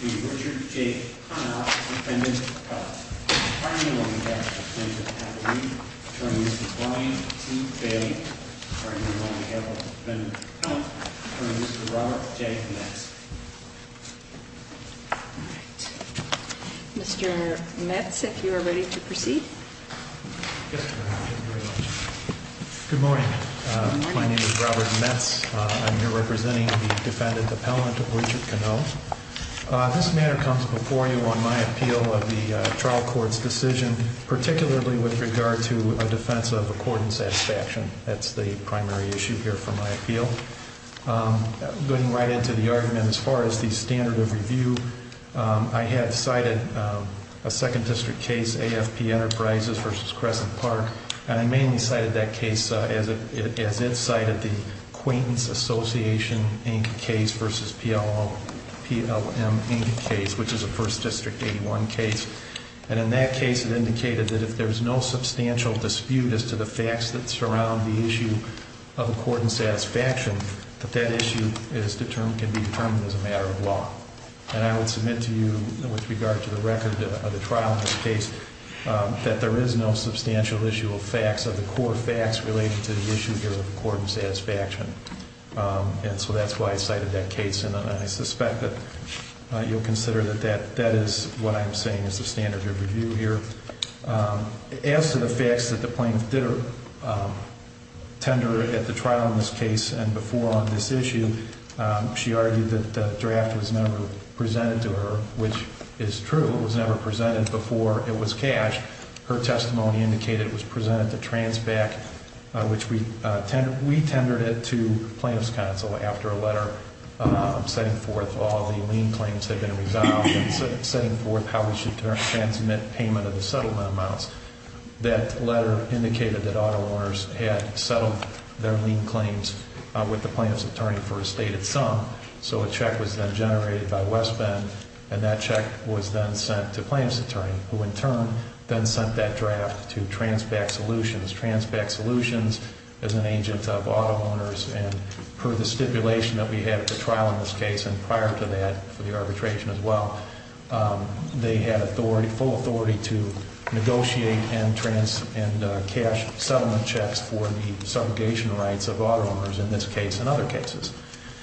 v. Richard J. Konow, Defendant Hunt v. Brian T. Bain, Defendant Hunt v. Robert J. Knax Mr. Metz, if you are ready to proceed. Good morning. My name is Robert Metz. I'm here representing the Defendant Appellant of Richard Konow. This matter comes before you on my appeal of the trial court's decision, particularly with regard to a defense of accord and satisfaction. That's the primary issue here for my appeal. Going right into the argument as far as the standard of review, I have cited a 2nd District case, AFP Enterprises v. Crescent Park. And I mainly cited that case as it cited the Quaintance Association Inc. case v. PLM Inc. case, which is a 1st District 81 case. And in that case it indicated that if there's no substantial dispute as to the facts that surround the issue of accord and satisfaction, that that issue can be determined as a matter of law. And I would submit to you with regard to the record of the trial in this case that there is no substantial issue of facts, of the core facts related to the issue here of accord and satisfaction. And so that's why I cited that case. And I suspect that you'll consider that that is what I'm saying is the standard of review here. As to the facts that the plaintiff did tender at the trial in this case and before on this issue, she argued that the draft was never presented to her, which is true. It was never presented before it was cashed. Her testimony indicated it was presented to Transback, which we tendered it to plaintiff's counsel after a letter setting forth all the lien claims had been resolved. Setting forth how we should transmit payment of the settlement amounts. That letter indicated that auto owners had settled their lien claims with the plaintiff's attorney for a stated sum. So a check was then generated by West Bend, and that check was then sent to plaintiff's attorney, who in turn then sent that draft to Transback Solutions. Transback Solutions is an agent of auto owners, and per the stipulation that we had at the trial in this case, and prior to that for the arbitration as well, they had authority, full authority to negotiate and cash settlement checks for the segregation rights of auto owners in this case and other cases.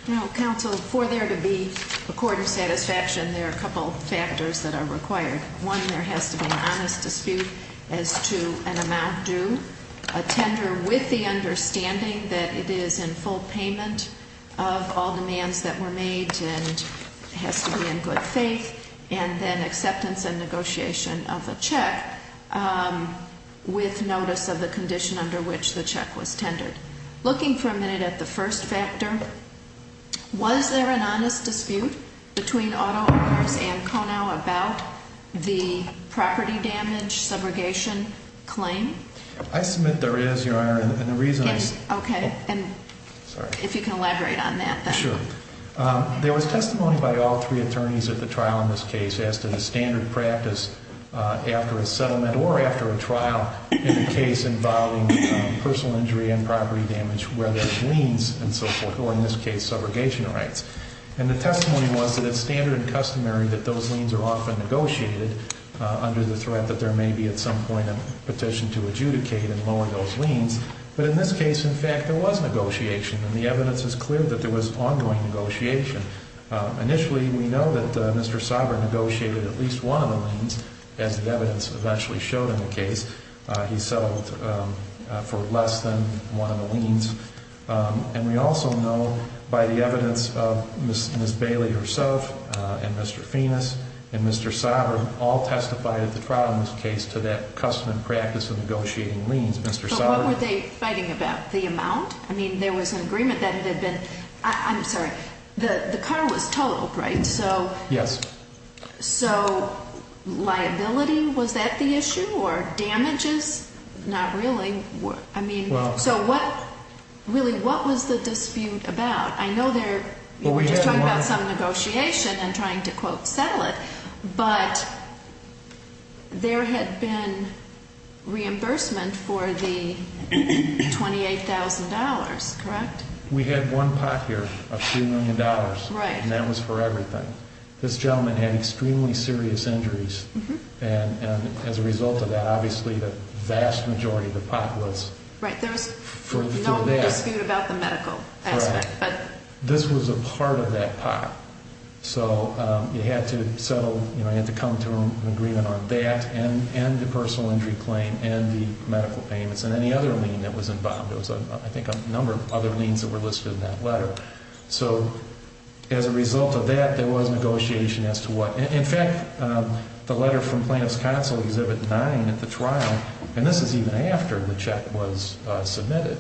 Now, counsel, for there to be a court of satisfaction, there are a couple factors that are required. One, there has to be an honest dispute as to an amount due. A tender with the understanding that it is in full payment of all demands that were made and has to be in good faith. And then acceptance and negotiation of a check with notice of the condition under which the check was tendered. Looking for a minute at the first factor, was there an honest dispute between auto owners and Konow about the property damage subrogation claim? I submit there is, Your Honor, and the reason is- Okay. Sorry. If you can elaborate on that. Sure. There was testimony by all three attorneys at the trial in this case as to the standard practice after a settlement or after a trial in the case involving personal injury and property damage where there's liens and so forth, or in this case, subrogation rights. And the testimony was that it's standard and customary that those liens are often negotiated under the threat that there may be at some point a petition to adjudicate and lower those liens. But in this case, in fact, there was negotiation, and the evidence is clear that there was ongoing negotiation. Initially, we know that Mr. Sovereign negotiated at least one of the liens, as the evidence eventually showed in the case. He settled for less than one of the liens. And we also know by the evidence of Ms. Bailey herself and Mr. Fenis and Mr. Sovereign, all testified at the trial in this case to that customary practice of negotiating liens. Mr. Sovereign- But what were they fighting about, the amount? I mean, there was an agreement that it had been- I'm sorry. The car was towed, right? So- Yes. So liability, was that the issue? Or damages? Not really. I mean, so what- Really, what was the dispute about? I know there- Well, we had one- We were just talking about some negotiation and trying to, quote, settle it. But there had been reimbursement for the $28,000, correct? We had one pot here of $2 million. Right. And that was for everything. This gentleman had extremely serious injuries. And as a result of that, obviously, the vast majority of the pot was- Right. There was no dispute about the medical aspect. Right. But- This was a part of that pot. So you had to settle, you know, you had to come to an agreement on that and the personal injury claim and the medical payments and any other lien that was involved. There was, I think, a number of other liens that were listed in that letter. So as a result of that, there was negotiation as to what- In fact, the letter from Plaintiff's Counsel, Exhibit 9 at the trial, and this is even after the check was submitted,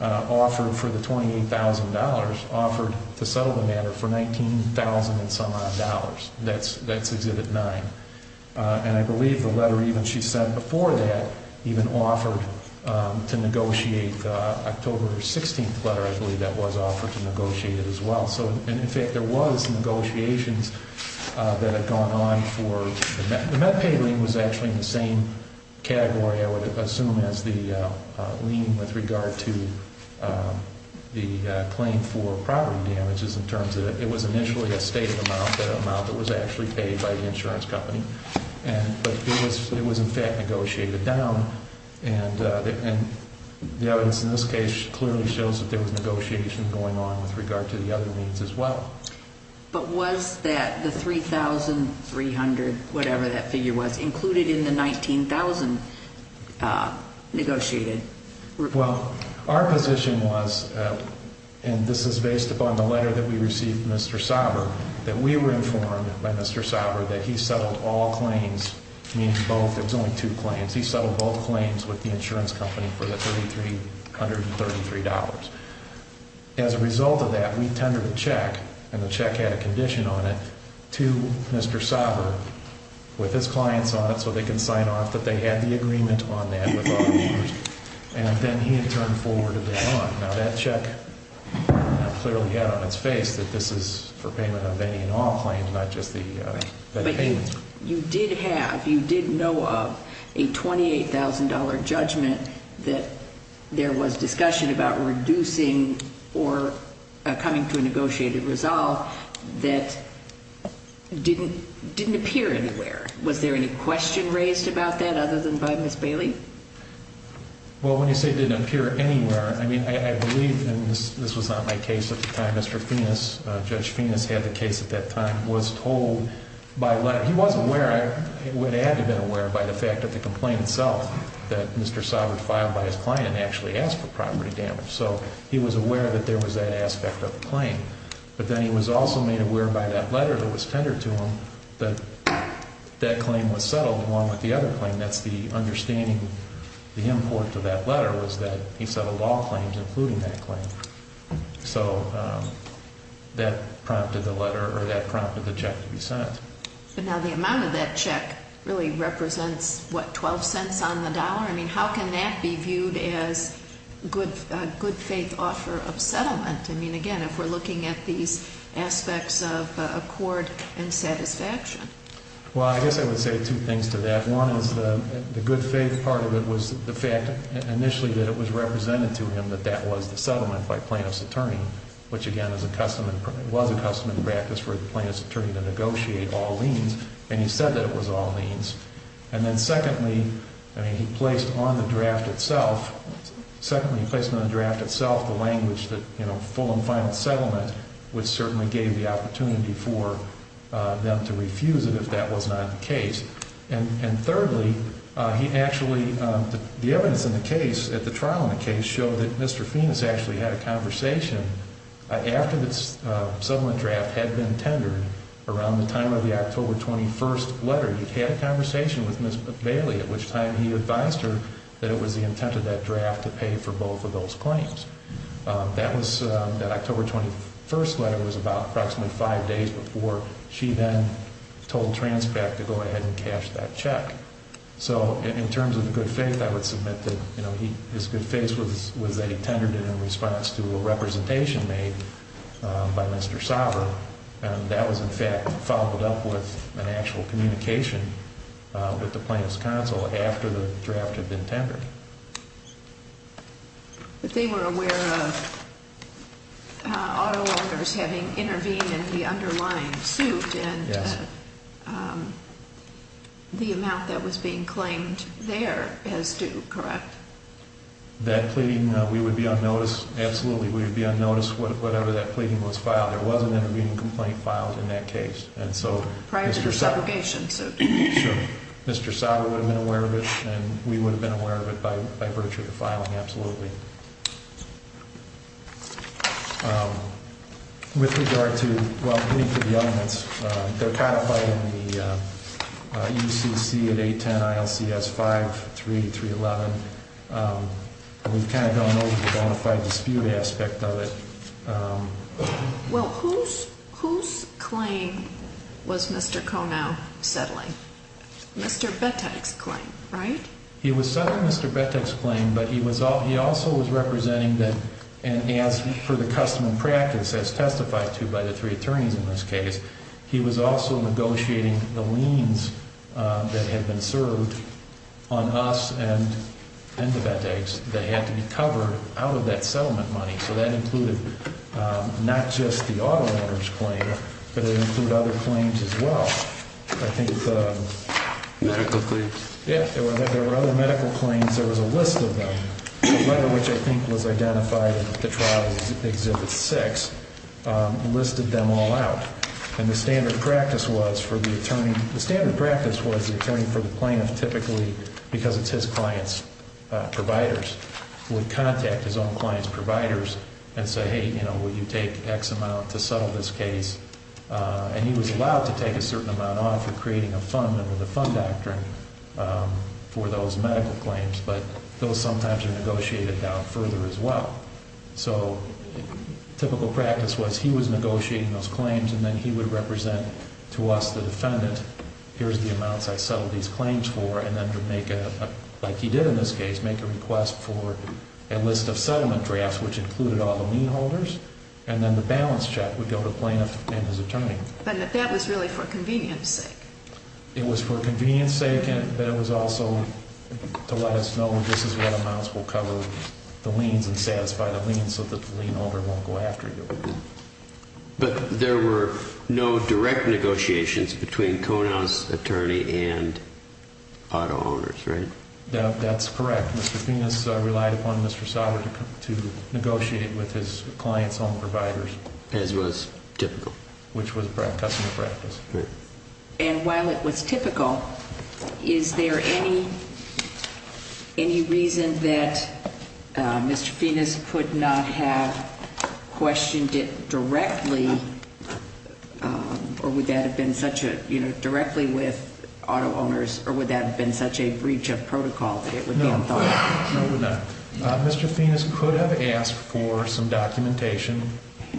offered for the $28,000, offered to settle the matter for $19,000 and some odd dollars. That's Exhibit 9. And I believe the letter even she sent before that even offered to negotiate October 16th letter. I believe that was offered to negotiate it as well. And in fact, there was negotiations that had gone on for- The MedPay lien was actually in the same category, I would assume, as the lien with regard to the claim for property damages in terms of it was initially a stated amount, an amount that was actually paid by the insurance company. But it was in fact negotiated down and the evidence in this case clearly shows that there was negotiation going on with regard to the other liens as well. But was that the $3,300, whatever that figure was, included in the $19,000 negotiated? Well, our position was, and this is based upon the letter that we received from Mr. Sauber, that we were informed by Mr. Sauber that he settled all claims, meaning both, it was only two claims. He settled both claims with the insurance company for the $3,333. As a result of that, we tendered a check, and the check had a condition on it, to Mr. Sauber with his clients on it so they can sign off that they had the agreement on that with all claims. And then he had turned forward a bail on. Now, that check clearly had on its face that this is for payment of any and all claims, not just the payments. But you did have, you did know of, a $28,000 judgment that there was discussion about reducing or coming to a negotiated resolve that didn't appear anywhere. Was there any question raised about that other than by Ms. Bailey? Well, when you say it didn't appear anywhere, I mean, I believe, and this was not my case at the time, Mr. Fenis, Judge Fenis had the case at that time, was told by a letter. He was aware, would have had to have been aware by the fact of the complaint itself that Mr. Sauber filed by his client and actually asked for property damage. So he was aware that there was that aspect of the claim. But then he was also made aware by that letter that was tendered to him that that claim was settled, along with the other claim. That's the understanding, the import to that letter was that he settled all claims, including that claim. So that prompted the letter, or that prompted the check to be sent. But now the amount of that check really represents, what, $0.12 on the dollar? I mean, how can that be viewed as a good faith offer of settlement? I mean, again, if we're looking at these aspects of accord and satisfaction. Well, I guess I would say two things to that. One is the good faith part of it was the fact initially that it was represented to him that that was the settlement by plaintiff's attorney, which, again, was a custom and practice for the plaintiff's attorney to negotiate all liens. And he said that it was all liens. And then secondly, I mean, he placed on the draft itself, secondly, he placed on the draft itself the language that, you know, full and final settlement, which certainly gave the opportunity for them to refuse it if that was not the case. And thirdly, he actually, the evidence in the case, at the trial in the case, showed that Mr. Phoenix actually had a conversation after the settlement draft had been tendered, around the time of the October 21st letter. He had a conversation with Ms. Bailey, at which time he advised her that it was the intent of that trial. It was the intent of the draft to pay for both of those claims. That October 21st letter was about approximately five days before she then told Transpac to go ahead and cash that check. So in terms of the good faith, I would submit that his good faith was that he tendered it in response to a representation made by Mr. Sauber. And that was, in fact, followed up with an actual communication with the plaintiff's counsel after the draft had been tendered. But they were aware of auto owners having intervened in the underlying suit and the amount that was being claimed there as due, correct? That pleading, we would be unnoticed. Absolutely, we would be unnoticed whatever that pleading was filed. There was an intervening complaint filed in that case, and so- Prior to your subrogation, so- Sure. Mr. Sauber would have been aware of it, and we would have been aware of it by virtue of the filing, absolutely. With regard to, well, beneath the elements, they're codified in the UCC at 810 ILCS 53311. We've kind of gone over the bona fide dispute aspect of it. Well, whose claim was Mr. Conow settling? Mr. Bettex's claim, right? He was settling Mr. Bettex's claim, but he also was representing, and as per the custom and practice as testified to by the three attorneys in this case, he was also negotiating the liens that had been served on us and to Bettex that had to be covered out of that settlement money. So that included not just the auto owner's claim, but it included other claims as well. I think the- Medical claims. Yeah, there were other medical claims. There was a list of them, one of which I think was identified in the trial, Exhibit 6, listed them all out. And the standard practice was for the attorney-the standard practice was the attorney for the plaintiff typically, because it's his client's providers, would contact his own client's providers and say, hey, you know, will you take X amount to settle this case? And he was allowed to take a certain amount off of creating a fund under the fund doctrine for those medical claims, but those sometimes are negotiated down further as well. So typical practice was he was negotiating those claims, and then he would represent to us, the defendant, here's the amounts I settled these claims for, and then to make a-like he did in this case, make a request for a list of settlement drafts, which included all the lien holders, and then the balance check would go to the plaintiff and his attorney. But that was really for convenience's sake. It was for convenience's sake, but it was also to let us know this is what amounts will cover the liens and satisfy the liens so that the lien holder won't go after you. But there were no direct negotiations between Konau's attorney and auto owners, right? That's correct. Mr. Phoenix relied upon Mr. Sauber to negotiate with his client's own providers. As was typical. Which was customer practice. And while it was typical, is there any reason that Mr. Phoenix could not have questioned it directly, or would that have been such a, you know, directly with auto owners, or would that have been such a breach of protocol that it would be unthought of? No, no, it would not. Mr. Phoenix could have asked for some documentation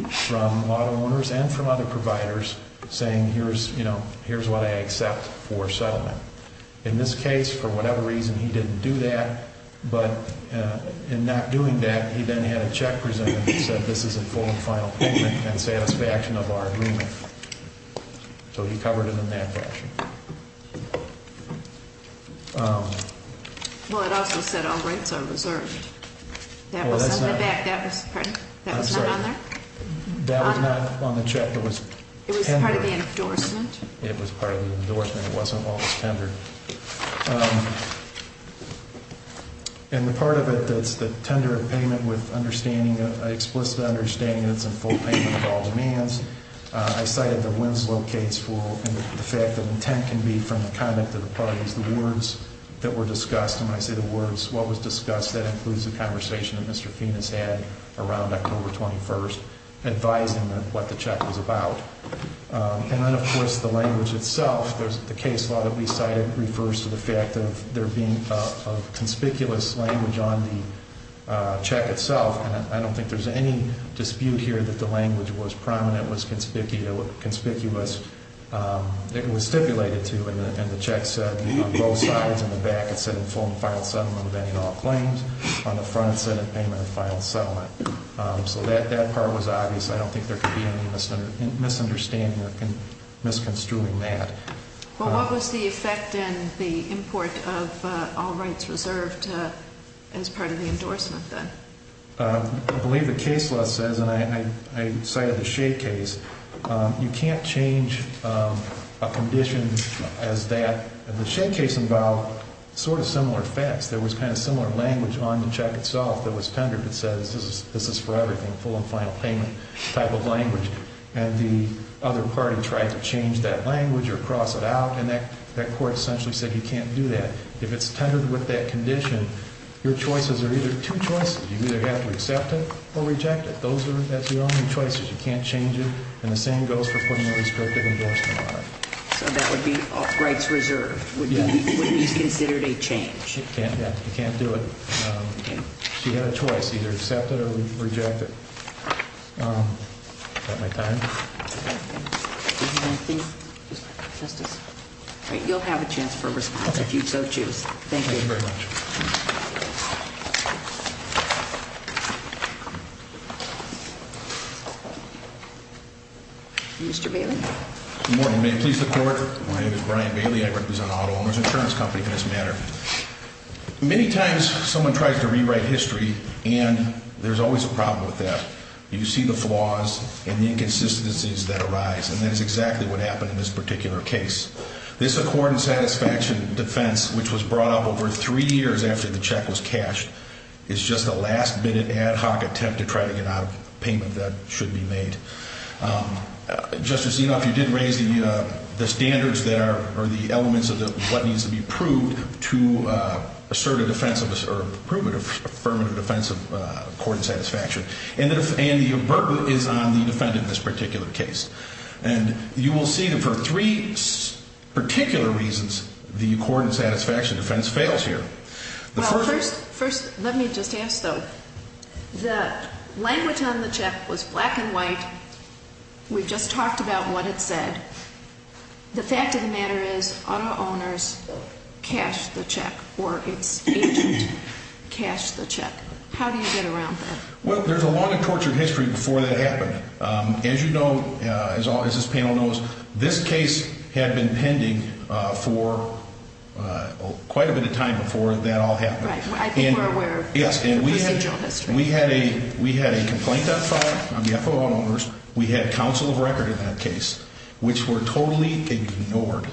from auto owners and from other providers saying, you know, here's what I accept for settlement. In this case, for whatever reason, he didn't do that. But in not doing that, he then had a check presented that said this is a full and final payment and satisfaction of our agreement. So he covered it in that fashion. Well, it also said all rights are reserved. That was not on there? That was not on the check. It was part of the endorsement. It was part of the endorsement. It wasn't while it was tendered. And the part of it that's the tender of payment with understanding, explicit understanding that it's a full payment of all demands, I cited the Winslow case for the fact that intent can be from the conduct of the parties. The words that were discussed, and when I say the words, what was discussed, that includes the conversation that Mr. Phoenix had around October 21st, advising what the check was about. And then, of course, the language itself. The case law that we cited refers to the fact of there being a conspicuous language on the check itself. And I don't think there's any dispute here that the language was prominent, was conspicuous. It was stipulated to, and the check said on both sides, on the back, it said a full and final settlement of any and all claims. On the front, it said a payment of final settlement. So that part was obvious. I don't think there could be any misunderstanding or misconstruing that. Well, what was the effect in the import of all rights reserved as part of the endorsement then? I believe the case law says, and I cited the Shea case, you can't change a condition as that. The Shea case involved sort of similar facts. There was kind of similar language on the check itself that was tendered that says, this is for everything, full and final payment type of language. And the other party tried to change that language or cross it out, and that court essentially said you can't do that. If it's tendered with that condition, your choices are either two choices. You either have to accept it or reject it. Those are the only choices. You can't change it. And the same goes for putting a restrictive endorsement on it. So that would be all rights reserved? Yes. Wouldn't these be considered a change? You can't do it. So you have a choice, either accept it or reject it. Is that my time? You'll have a chance for a response if you so choose. Thank you. Thank you very much. Mr. Bailey? Good morning. May it please the Court? My name is Brian Bailey. I represent an auto owner's insurance company in this matter. Many times someone tries to rewrite history, and there's always a problem with that. You see the flaws and the inconsistencies that arise, and that is exactly what happened in this particular case. This accord and satisfaction defense, which was brought up over three years after the check was cashed, is just a last-minute ad hoc attempt to try to get out a payment that should be made. Justice Enoff, you did raise the standards that are the elements of what needs to be proved to assert a defense or prove an affirmative defense of accord and satisfaction. And the oberva is on the defendant in this particular case. And you will see that for three particular reasons, the accord and satisfaction defense fails here. Well, first let me just ask, though. The language on the check was black and white. We just talked about what it said. The fact of the matter is auto owners cashed the check or its agent cashed the check. How do you get around that? Well, there's a long and tortured history before that happened. As you know, as this panel knows, this case had been pending for quite a bit of time before that all happened. Right. I think we're aware of the procedural history. We had a complaint on file on behalf of auto owners. We had counsel of record in that case, which were totally ignored.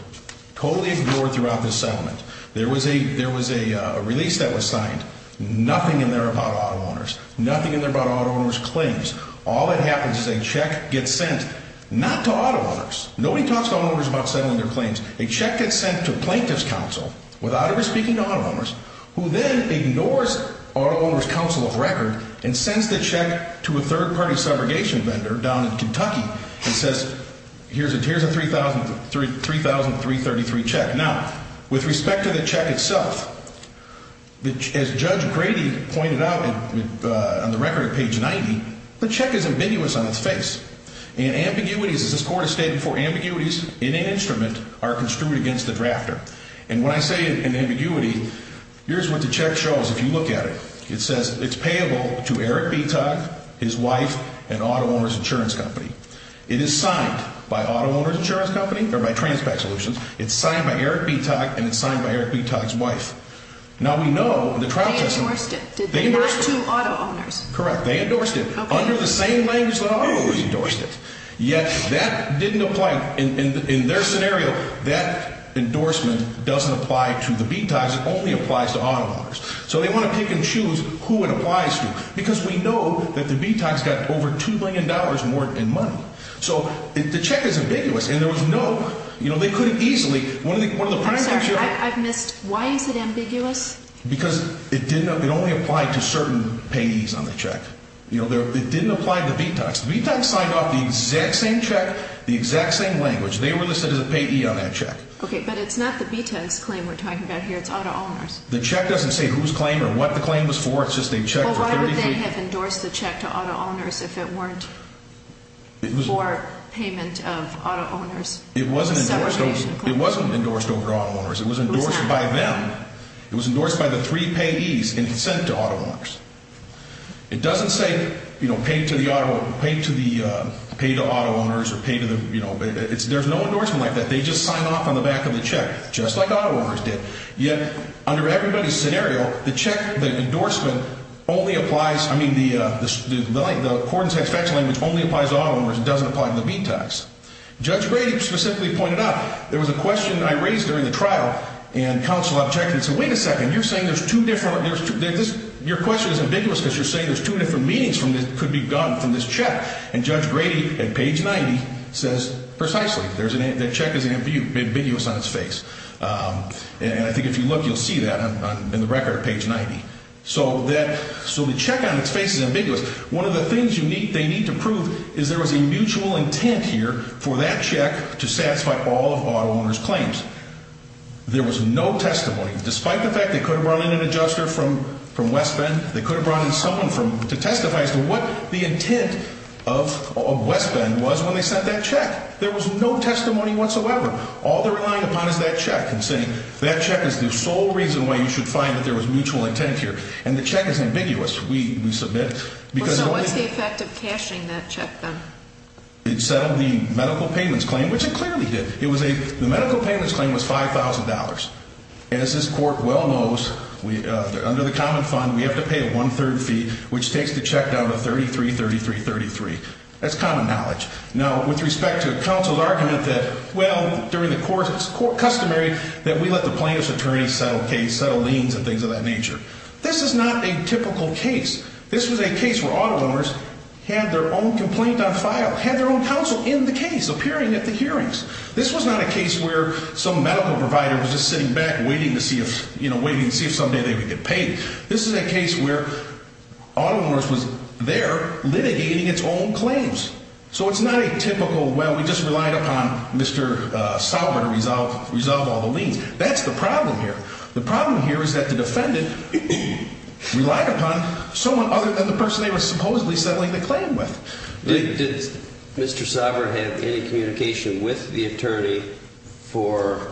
Totally ignored throughout this settlement. There was a release that was signed. Nothing in there about auto owners. Nothing in there about auto owners' claims. All that happens is a check gets sent not to auto owners. Nobody talks to auto owners about settling their claims. A check gets sent to a plaintiff's counsel, without ever speaking to auto owners, who then ignores auto owners' counsel of record and sends the check to a third-party subrogation vendor down in Kentucky and says, here's a $3,333 check. Now, with respect to the check itself, as Judge Grady pointed out on the record at page 90, the check is ambiguous on its face. And ambiguities, as this Court has stated before, ambiguities in an instrument are construed against the drafter. And when I say an ambiguity, here's what the check shows, if you look at it. It says it's payable to Eric B. Tugg, his wife, and auto owners' insurance company. It is signed by auto owners' insurance company, or by Transpac Solutions. It's signed by Eric B. Tugg, and it's signed by Eric B. Tugg's wife. Now, we know in the trial system. They endorsed it. They endorsed it. Not to auto owners. Correct. They endorsed it. Okay. Under the same language that auto owners endorsed it. Yet that didn't apply. In their scenario, that endorsement doesn't apply to the B-Tucks. It only applies to auto owners. So they want to pick and choose who it applies to, because we know that the B-Tucks got over $2 million more in money. So the check is ambiguous, and there was no, you know, they couldn't easily. I'm sorry, I've missed. Why is it ambiguous? Because it only applied to certain payees on the check. You know, it didn't apply to the B-Tucks. The B-Tucks signed off the exact same check, the exact same language. They were listed as a payee on that check. Okay, but it's not the B-Tucks' claim we're talking about here. It's auto owners'. The check doesn't say whose claim or what the claim was for. It's just a check for 33. Well, why would they have endorsed the check to auto owners if it weren't for payment of auto owners' segregation claim? It wasn't endorsed over to auto owners'. It was endorsed by them. It was endorsed by the three payees in consent to auto owners'. It doesn't say, you know, pay to the auto owners or pay to the, you know, there's no endorsement like that. They just sign off on the back of the check, just like auto owners did. Yet, under everybody's scenario, the endorsement only applies, I mean, the cordon de satisfaction language only applies to auto owners. It doesn't apply to the B-Tucks. Judge Brady specifically pointed out, there was a question I raised during the trial, and counsel objected and said, wait a second, you're saying there's two different, your question is ambiguous because you're saying there's two different meanings that could be gotten from this check. And Judge Brady, at page 90, says precisely. That check is ambiguous on its face. And I think if you look, you'll see that in the record at page 90. So the check on its face is ambiguous. One of the things they need to prove is there was a mutual intent here for that check to satisfy all of auto owners' claims. There was no testimony. Despite the fact they could have brought in an adjuster from West Bend, they could have brought in someone to testify as to what the intent of West Bend was when they sent that check. There was no testimony whatsoever. All they're relying upon is that check and saying, that check is the sole reason why you should find that there was mutual intent here. And the check is ambiguous, we submit. So what's the effect of cashing that check then? It settled the medical payments claim, which it clearly did. The medical payments claim was $5,000. And as this court well knows, under the common fund, we have to pay a one-third fee, which takes the check down to $33,33,33. That's common knowledge. Now, with respect to counsel's argument that, well, during the course, it's customary that we let the plaintiff's attorney settle case, settle liens and things of that nature. This is not a typical case. This was a case where auto owners had their own complaint on file, had their own counsel in the case, appearing at the hearings. This was not a case where some medical provider was just sitting back waiting to see if, you know, waiting to see if someday they would get paid. This is a case where auto owners was there litigating its own claims. So it's not a typical, well, we just relied upon Mr. Sauber to resolve all the liens. That's the problem here. The problem here is that the defendant relied upon someone other than the person they were supposedly settling the claim with. Did Mr. Sauber have any communication with the attorney for,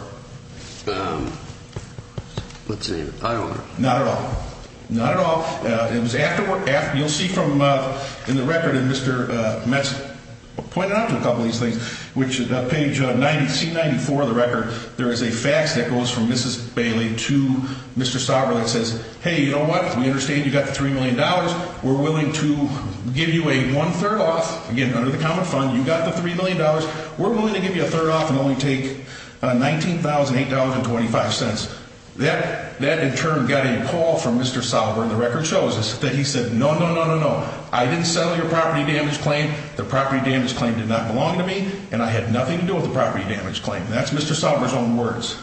let's see, auto owner? Not at all. Not at all. It was afterward, you'll see from in the record, and Mr. Metz pointed out a couple of these things, which is on page 90, C94 of the record, there is a fax that goes from Mrs. Bailey to Mr. Sauber that says, hey, you know what, we understand you got the $3 million. We're willing to give you a one-third off. Again, under the common fund, you got the $3 million. We're willing to give you a third off and only take $19,000, $8,000, and 25 cents. That in turn got a call from Mr. Sauber, and the record shows that he said, no, no, no, no, no. I didn't settle your property damage claim. The property damage claim did not belong to me, and I had nothing to do with the property damage claim. That's Mr. Sauber's own words.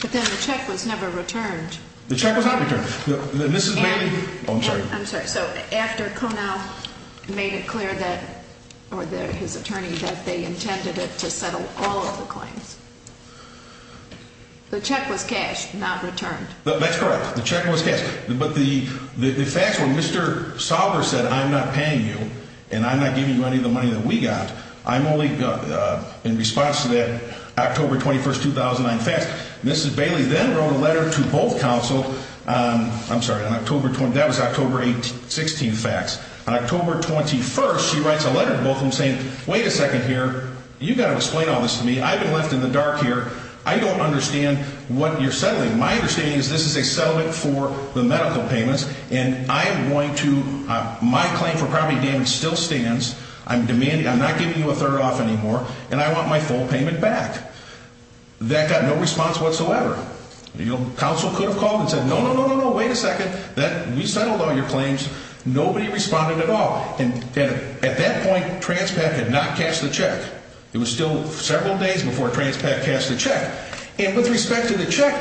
But then the check was never returned. The check was not returned. Oh, I'm sorry. I'm sorry. So after Conow made it clear that, or his attorney, that they intended it to settle all of the claims, the check was cashed, not returned. That's correct. The check was cashed. But the fax where Mr. Sauber said, I'm not paying you, and I'm not giving you any of the money that we got, I'm only in response to that October 21st, 2009 fax. Mrs. Bailey then wrote a letter to both counsel. I'm sorry. That was October 16th fax. On October 21st, she writes a letter to both of them saying, wait a second here. You've got to explain all this to me. I've been left in the dark here. I don't understand what you're settling. My understanding is this is a settlement for the medical payments, and my claim for property damage still stands. I'm not giving you a third off anymore, and I want my full payment back. That got no response whatsoever. Counsel could have called and said, no, no, no, no, wait a second. We settled all your claims. Nobody responded at all. And at that point, Transpac had not cashed the check. It was still several days before Transpac cashed the check. And with respect to the check,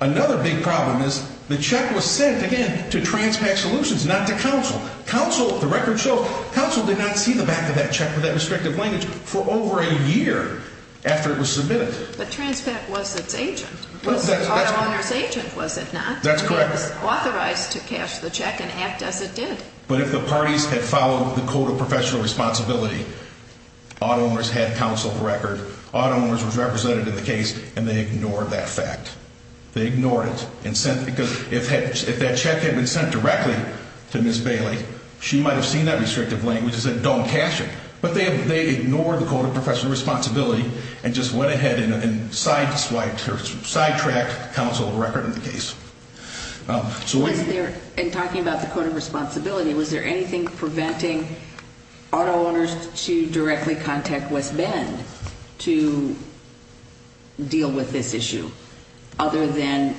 another big problem is the check was sent, again, to Transpac Solutions, not to counsel. The record shows counsel did not see the back of that check with that restrictive language for over a year after it was submitted. But Transpac was its agent. It was the auto owner's agent, was it not? That's correct. It was authorized to cash the check and act as it did. But if the parties had followed the code of professional responsibility, auto owners had counseled the record. Auto owners were represented in the case, and they ignored that fact. They ignored it. Because if that check had been sent directly to Ms. Bailey, she might have seen that restrictive language and said don't cash it. But they ignored the code of professional responsibility and just went ahead and sidetracked counsel's record in the case. In talking about the code of responsibility, was there anything preventing auto owners to directly contact West Bend to deal with this issue? Other than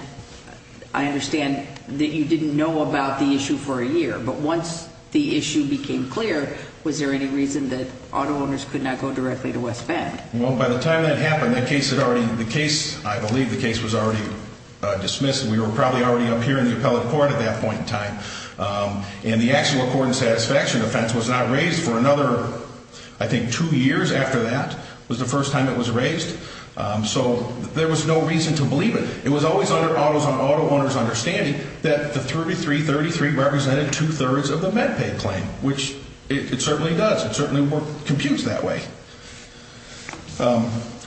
I understand that you didn't know about the issue for a year. But once the issue became clear, was there any reason that auto owners could not go directly to West Bend? Well, by the time that happened, I believe the case was already dismissed. We were probably already up here in the appellate court at that point in time. And the Actual Accord and Satisfaction offense was not raised for another, I think, two years after that was the first time it was raised. So there was no reason to believe it. It was always under auto owners' understanding that the 3333 represented two-thirds of the MedPay claim, which it certainly does. It certainly computes that way.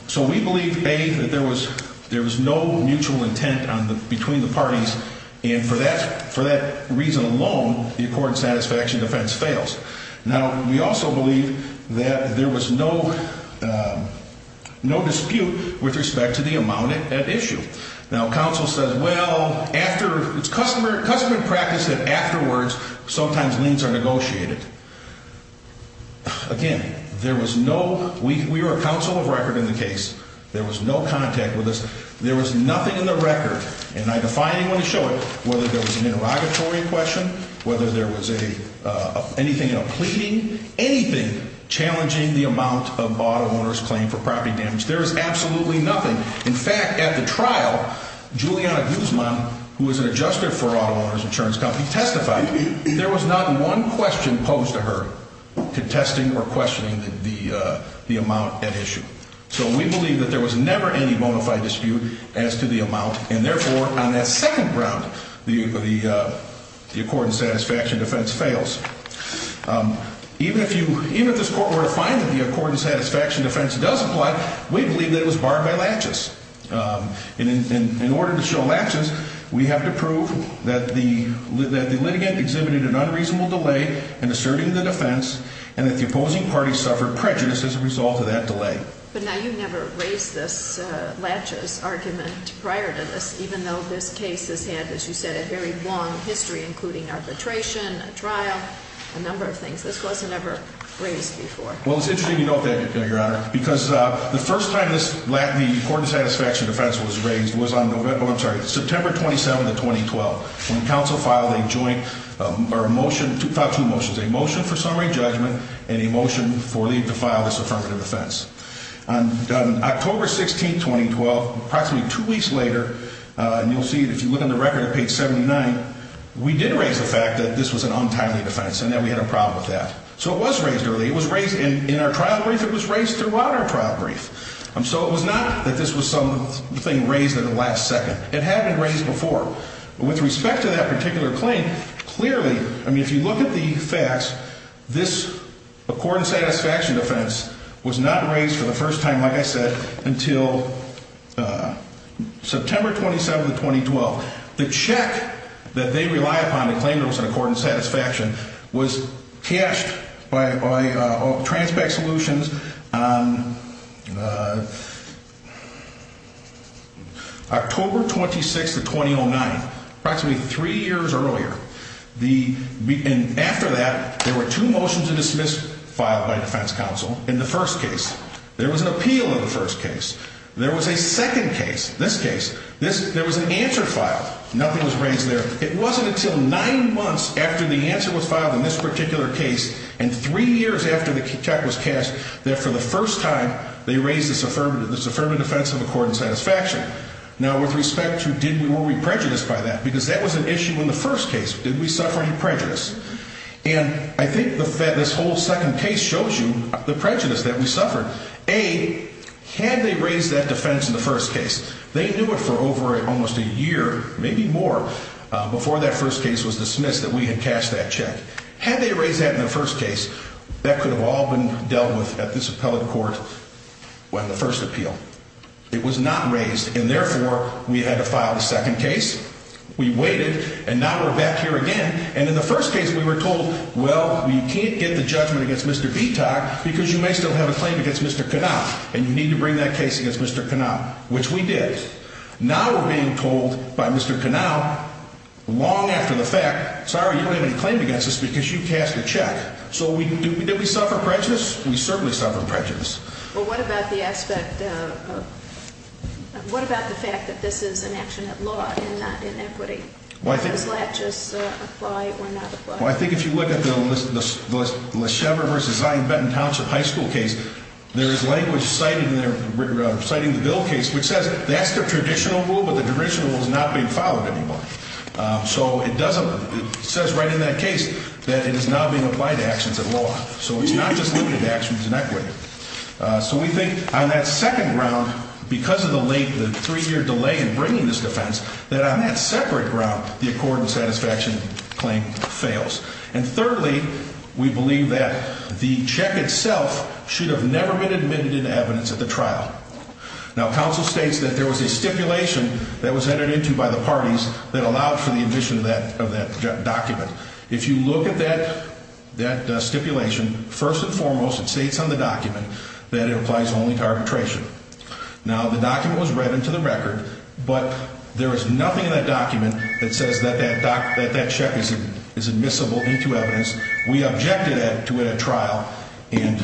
So we believe, A, that there was no mutual intent between the parties. And for that reason alone, the Accord and Satisfaction offense fails. Now, we also believe that there was no dispute with respect to the amount at issue. Now, counsel says, well, it's customer practice that afterwards sometimes liens are negotiated. Again, there was no—we were a counsel of record in the case. There was no contact with us. There was nothing in the record, and I defy anyone to show it, whether there was an interrogatory question, whether there was anything in a pleading, anything challenging the amount of auto owners' claim for property damage. There is absolutely nothing. In fact, at the trial, Juliana Guzman, who was an adjuster for auto owners' insurance company, testified. There was not one question posed to her contesting or questioning the amount at issue. So we believe that there was never any bona fide dispute as to the amount, and therefore, on that second ground, the Accord and Satisfaction defense fails. Even if you—even if this Court were to find that the Accord and Satisfaction defense does apply, we believe that it was barred by laches. And in order to show laches, we have to prove that the litigant exhibited an unreasonable delay in asserting the defense and that the opposing party suffered prejudice as a result of that delay. But now, you never raised this laches argument prior to this, even though this case has had, as you said, a very long history, including arbitration, a trial, a number of things. This wasn't ever raised before. Well, it's interesting you note that, Your Honor, because the first time this—the Accord and Satisfaction defense was raised was on November—oh, I'm sorry, September 27th of 2012, when counsel filed a joint—or a motion—filed two motions, a motion for summary judgment and a motion for the—to file this affirmative defense. On October 16th, 2012, approximately two weeks later, and you'll see it if you look on the record at page 79, we did raise the fact that this was an untimely defense and that we had a problem with that. So it was raised early. It was raised in our trial brief. It was raised throughout our trial brief. So it was not that this was something raised at the last second. It had been raised before. With respect to that particular claim, clearly—I mean, if you look at the facts, this Accord and Satisfaction defense was not raised for the first time, like I said, until September 27th of 2012. The check that they rely upon to claim there was an Accord and Satisfaction was cashed by Transpac Solutions on October 26th of 2009, approximately three years earlier. The—and after that, there were two motions of dismissal filed by defense counsel in the first case. There was an appeal in the first case. There was a second case, this case. This—there was an answer filed. Nothing was raised there. It wasn't until nine months after the answer was filed in this particular case and three years after the check was cashed that, for the first time, they raised this affirmative defense of Accord and Satisfaction. Now, with respect to did we—were we prejudiced by that, because that was an issue in the first case. Did we suffer any prejudice? And I think the—this whole second case shows you the prejudice that we suffered. A, had they raised that defense in the first case, they knew it for over almost a year, maybe more, before that first case was dismissed that we had cashed that check. Had they raised that in the first case, that could have all been dealt with at this appellate court when the first appeal. It was not raised, and therefore, we had to file the second case. We waited, and now we're back here again. And in the first case, we were told, well, you can't get the judgment against Mr. Vitoc because you may still have a claim against Mr. Kanawha, and you need to bring that case against Mr. Kanawha, which we did. Now we're being told by Mr. Kanawha, long after the fact, sorry, you don't have any claim against us because you cashed the check. So we—did we suffer prejudice? We certainly suffered prejudice. Well, what about the aspect of—what about the fact that this is an action at law and not in equity? Does that just apply or not apply? Well, I think if you look at the Leshever v. Zion Benton Township High School case, there is language citing the bill case which says that's the traditional rule, but the traditional rule is not being followed anymore. So it doesn't—it says right in that case that it is not being applied to actions at law. So it's not just limited to actions in equity. So we think on that second ground, because of the late—the three-year delay in bringing this defense, that on that separate ground, the accord and satisfaction claim fails. And thirdly, we believe that the check itself should have never been admitted into evidence at the trial. Now, counsel states that there was a stipulation that was entered into by the parties that allowed for the admission of that document. If you look at that stipulation, first and foremost, it states on the document that it applies only to arbitration. Now, the document was read into the record, but there is nothing in that document that says that that check is admissible into evidence. We objected to it at trial, and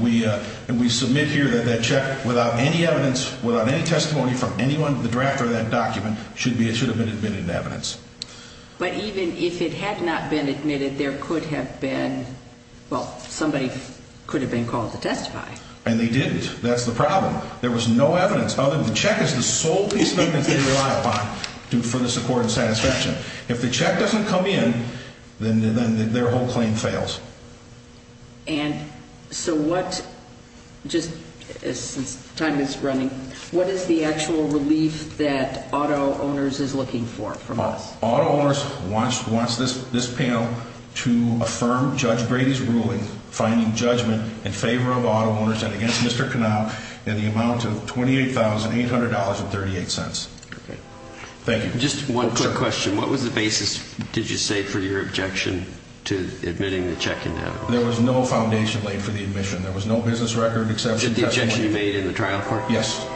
we submit here that that check, without any evidence, without any testimony from anyone in the draft of that document, should have been admitted into evidence. But even if it had not been admitted, there could have been—well, somebody could have been called to testify. And they didn't. That's the problem. There was no evidence other than the check is the sole piece of evidence they rely upon for the support and satisfaction. If the check doesn't come in, then their whole claim fails. And so what—just since time is running, what is the actual relief that Auto Owners is looking for from us? Auto Owners wants this panel to affirm Judge Brady's ruling, finding judgment in favor of Auto Owners and against Mr. Knapp in the amount of $28,800.38. Okay. Thank you. Just one quick question. What was the basis, did you say, for your objection to admitting the check into evidence? There was no foundation laid for the admission. There was no business record except the testimony— The objection you made in the trial court? Yes.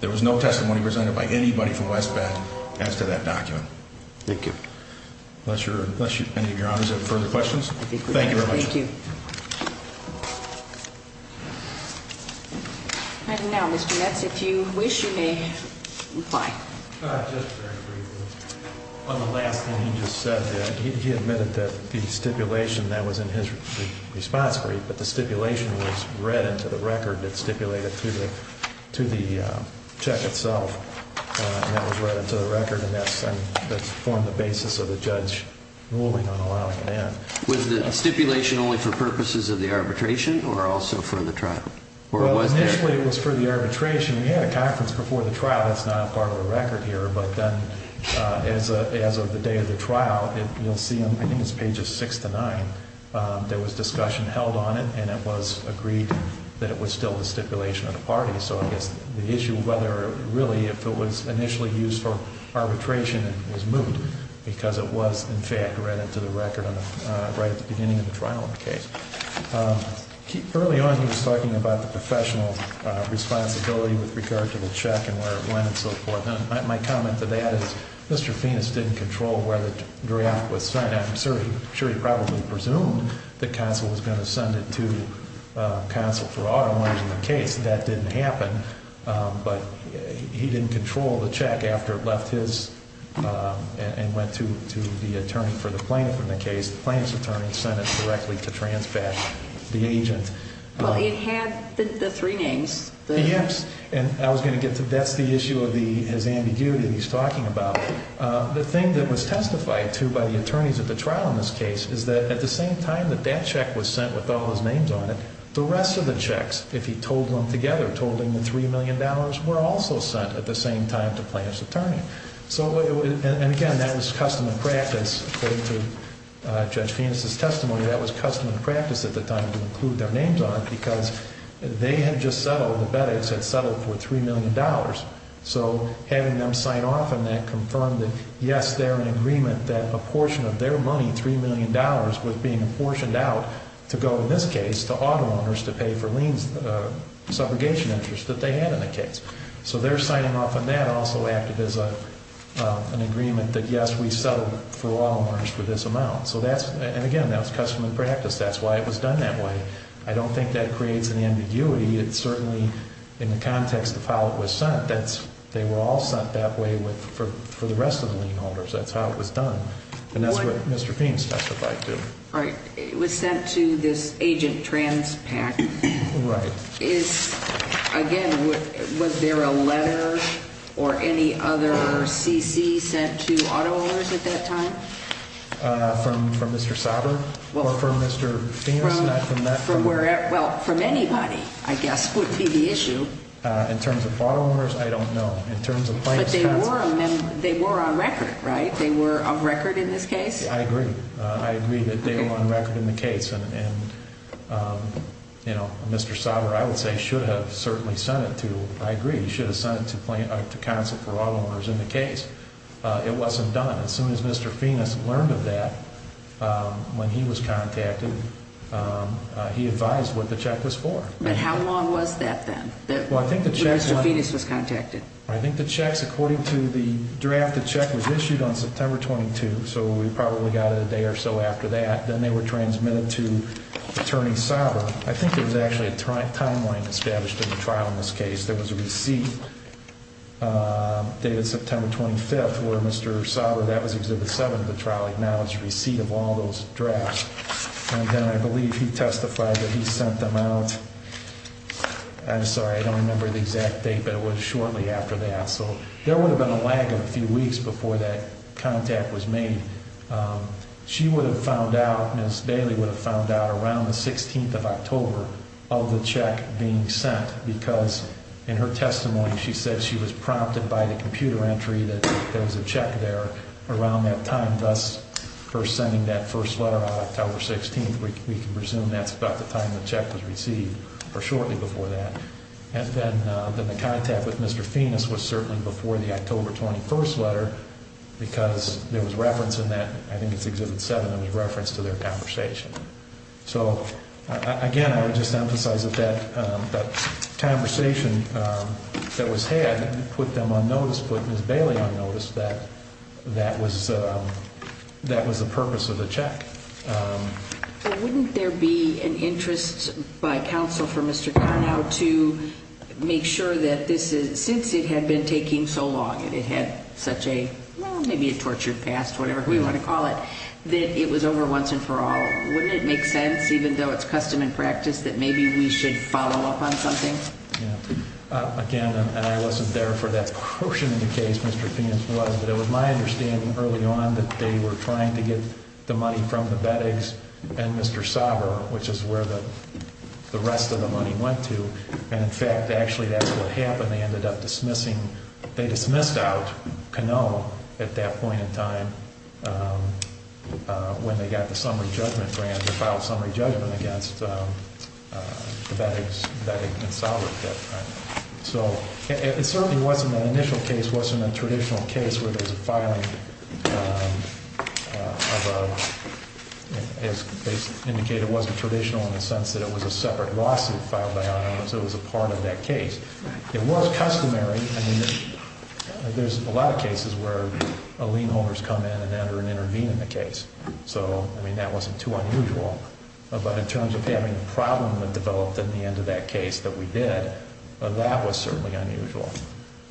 There was no testimony presented by anybody from West Bend as to that document. Thank you. Unless any of your honors have further questions? Thank you very much. Thank you. And now, Mr. Metz, if you wish, you may reply. Just very briefly. On the last thing he just said, he admitted that the stipulation that was in his response brief, but the stipulation was read into the record that stipulated to the check itself. And that was read into the record, and that's formed the basis of the judge ruling on allowing it in. Was the stipulation only for purposes of the arbitration or also for the trial? Well, initially it was for the arbitration. We had a conference before the trial. That's not part of the record here. But then, as of the day of the trial, you'll see on, I think it's pages six to nine, there was discussion held on it, and it was agreed that it was still the stipulation of the party. So I guess the issue of whether, really, if it was initially used for arbitration was moved because it was, in fact, read into the record right at the beginning of the trial in the case. Early on, he was talking about the professional responsibility with regard to the check and where it went and so forth. And my comment to that is Mr. Fiennes didn't control where the draft was sent. I'm sure he probably presumed that counsel was going to send it to counsel for auto owners in the case. That didn't happen. But he didn't control the check after it left his and went to the attorney for the plaintiff in the case. The plaintiff's attorney sent it directly to transpatch, the agent. But it had the three names. Yes, and I was going to get to that. That's the issue of his ambiguity that he's talking about. The thing that was testified to by the attorneys at the trial in this case is that at the same time that that check was sent with all his names on it, the rest of the checks, if he told them together, told him the $3 million were also sent at the same time to plaintiff's attorney. And again, that was custom and practice. According to Judge Fiennes' testimony, that was custom and practice at the time to include their names on it because they had just settled, the bettors had settled for $3 million. So having them sign off on that confirmed that, yes, they're in agreement that a portion of their money, $3 million, was being apportioned out to go, in this case, to auto owners to pay for lien subrogation interest that they had in the case. So their signing off on that also acted as an agreement that, yes, we settled for auto owners for this amount. And again, that was custom and practice. That's why it was done that way. I don't think that creates an ambiguity. It certainly, in the context of how it was sent, they were all sent that way for the rest of the lien holders. That's how it was done. And that's what Mr. Fiennes testified to. All right. It was sent to this Agent Transpac. Right. Is, again, was there a letter or any other CC sent to auto owners at that time? From Mr. Sauter? Or from Mr. Fiennes? Not from that. Well, from anybody, I guess, would be the issue. In terms of auto owners, I don't know. In terms of plaintiff's counsel. But they were on record, right? They were on record in this case? I agree. I agree that they were on record in the case. And, you know, Mr. Sauter, I would say, should have certainly sent it to. I agree. He should have sent it to counsel for auto owners in the case. It wasn't done. As soon as Mr. Fiennes learned of that, when he was contacted, he advised what the check was for. But how long was that then, when Mr. Fiennes was contacted? I think the checks, according to the draft, the check was issued on September 22. So we probably got it a day or so after that. Then they were transmitted to Attorney Sauter. I think there was actually a timeline established in the trial in this case. There was a receipt dated September 25th, where Mr. Sauter, that was Exhibit 7 of the trial, acknowledged receipt of all those drafts. And then I believe he testified that he sent them out. I'm sorry, I don't remember the exact date, but it was shortly after that. So there would have been a lag of a few weeks before that contact was made. She would have found out, Ms. Daly would have found out around the 16th of October of the check being sent, because in her testimony she said she was prompted by the computer entry that there was a check there around that time, thus her sending that first letter out October 16th. We can presume that's about the time the check was received, or shortly before that. And then the contact with Mr. Fiennes was certainly before the October 21st letter, because there was reference in that, I think it's Exhibit 7, there was reference to their conversation. So, again, I would just emphasize that that conversation that was had put them on notice, put Ms. Daly on notice, that that was the purpose of the check. Wouldn't there be an interest by counsel for Mr. Carnow to make sure that this is, since it had been taking so long and it had such a, well, maybe a tortured past, whatever we want to call it, that it was over once and for all? Wouldn't it make sense, even though it's custom and practice, that maybe we should follow up on something? Again, and I wasn't there for that portion of the case, Mr. Fiennes was, but it was my understanding early on that they were trying to get the money from the Veddix and Mr. Sauber, which is where the rest of the money went to. And, in fact, actually that's what happened. They ended up dismissing, they dismissed out Carnow at that point in time when they got the summary judgment grant to file a summary judgment against the Veddix and Sauber at that time. So it certainly wasn't an initial case. It wasn't a traditional case where there's a filing of a, as indicated, it wasn't traditional in the sense that it was a separate lawsuit filed by our office. It was a part of that case. It was customary. I mean, there's a lot of cases where lien holders come in and enter and intervene in the case. So, I mean, that wasn't too unusual. But in terms of having a problem that developed at the end of that case that we did, that was certainly unusual.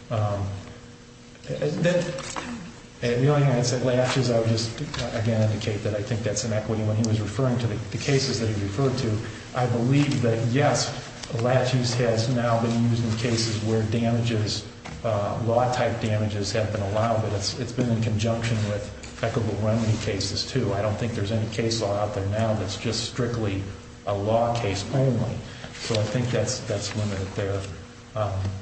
At the only time I said latches, I would just, again, indicate that I think that's inequity. When he was referring to the cases that he referred to, I believe that, yes, latch use has now been used in cases where damages, law-type damages have been allowed, but it's been in conjunction with equitable remedy cases, too. I don't think there's any case law out there now that's just strictly a law case only. So I think that's limited there.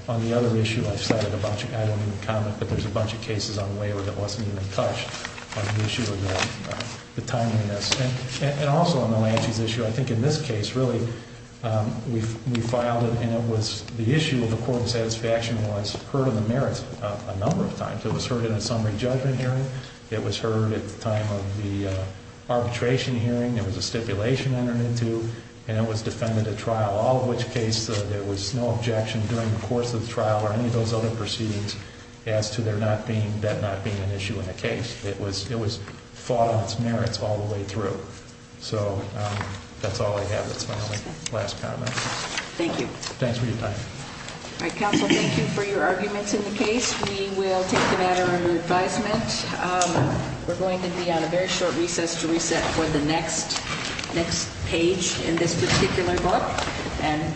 On the other issue, I've cited a bunch of items in the comment, but there's a bunch of cases on labor that wasn't even touched on the issue of the timeliness. And also on the latches issue, I think in this case, really, we filed it, and it was the issue of the court of satisfaction was heard on the merits a number of times. It was heard in a summary judgment hearing. It was heard at the time of the arbitration hearing. There was a stipulation entered into, and it was defended at trial, all of which case there was no objection during the course of the trial or any of those other proceedings as to that not being an issue in the case. It was fought on its merits all the way through. So that's all I have. That's my only last comment. Thank you. Thanks for your time. All right, counsel, thank you for your arguments in the case. We will take the matter under advisement. We're going to be on a very short recess to reset for the next page in this particular book.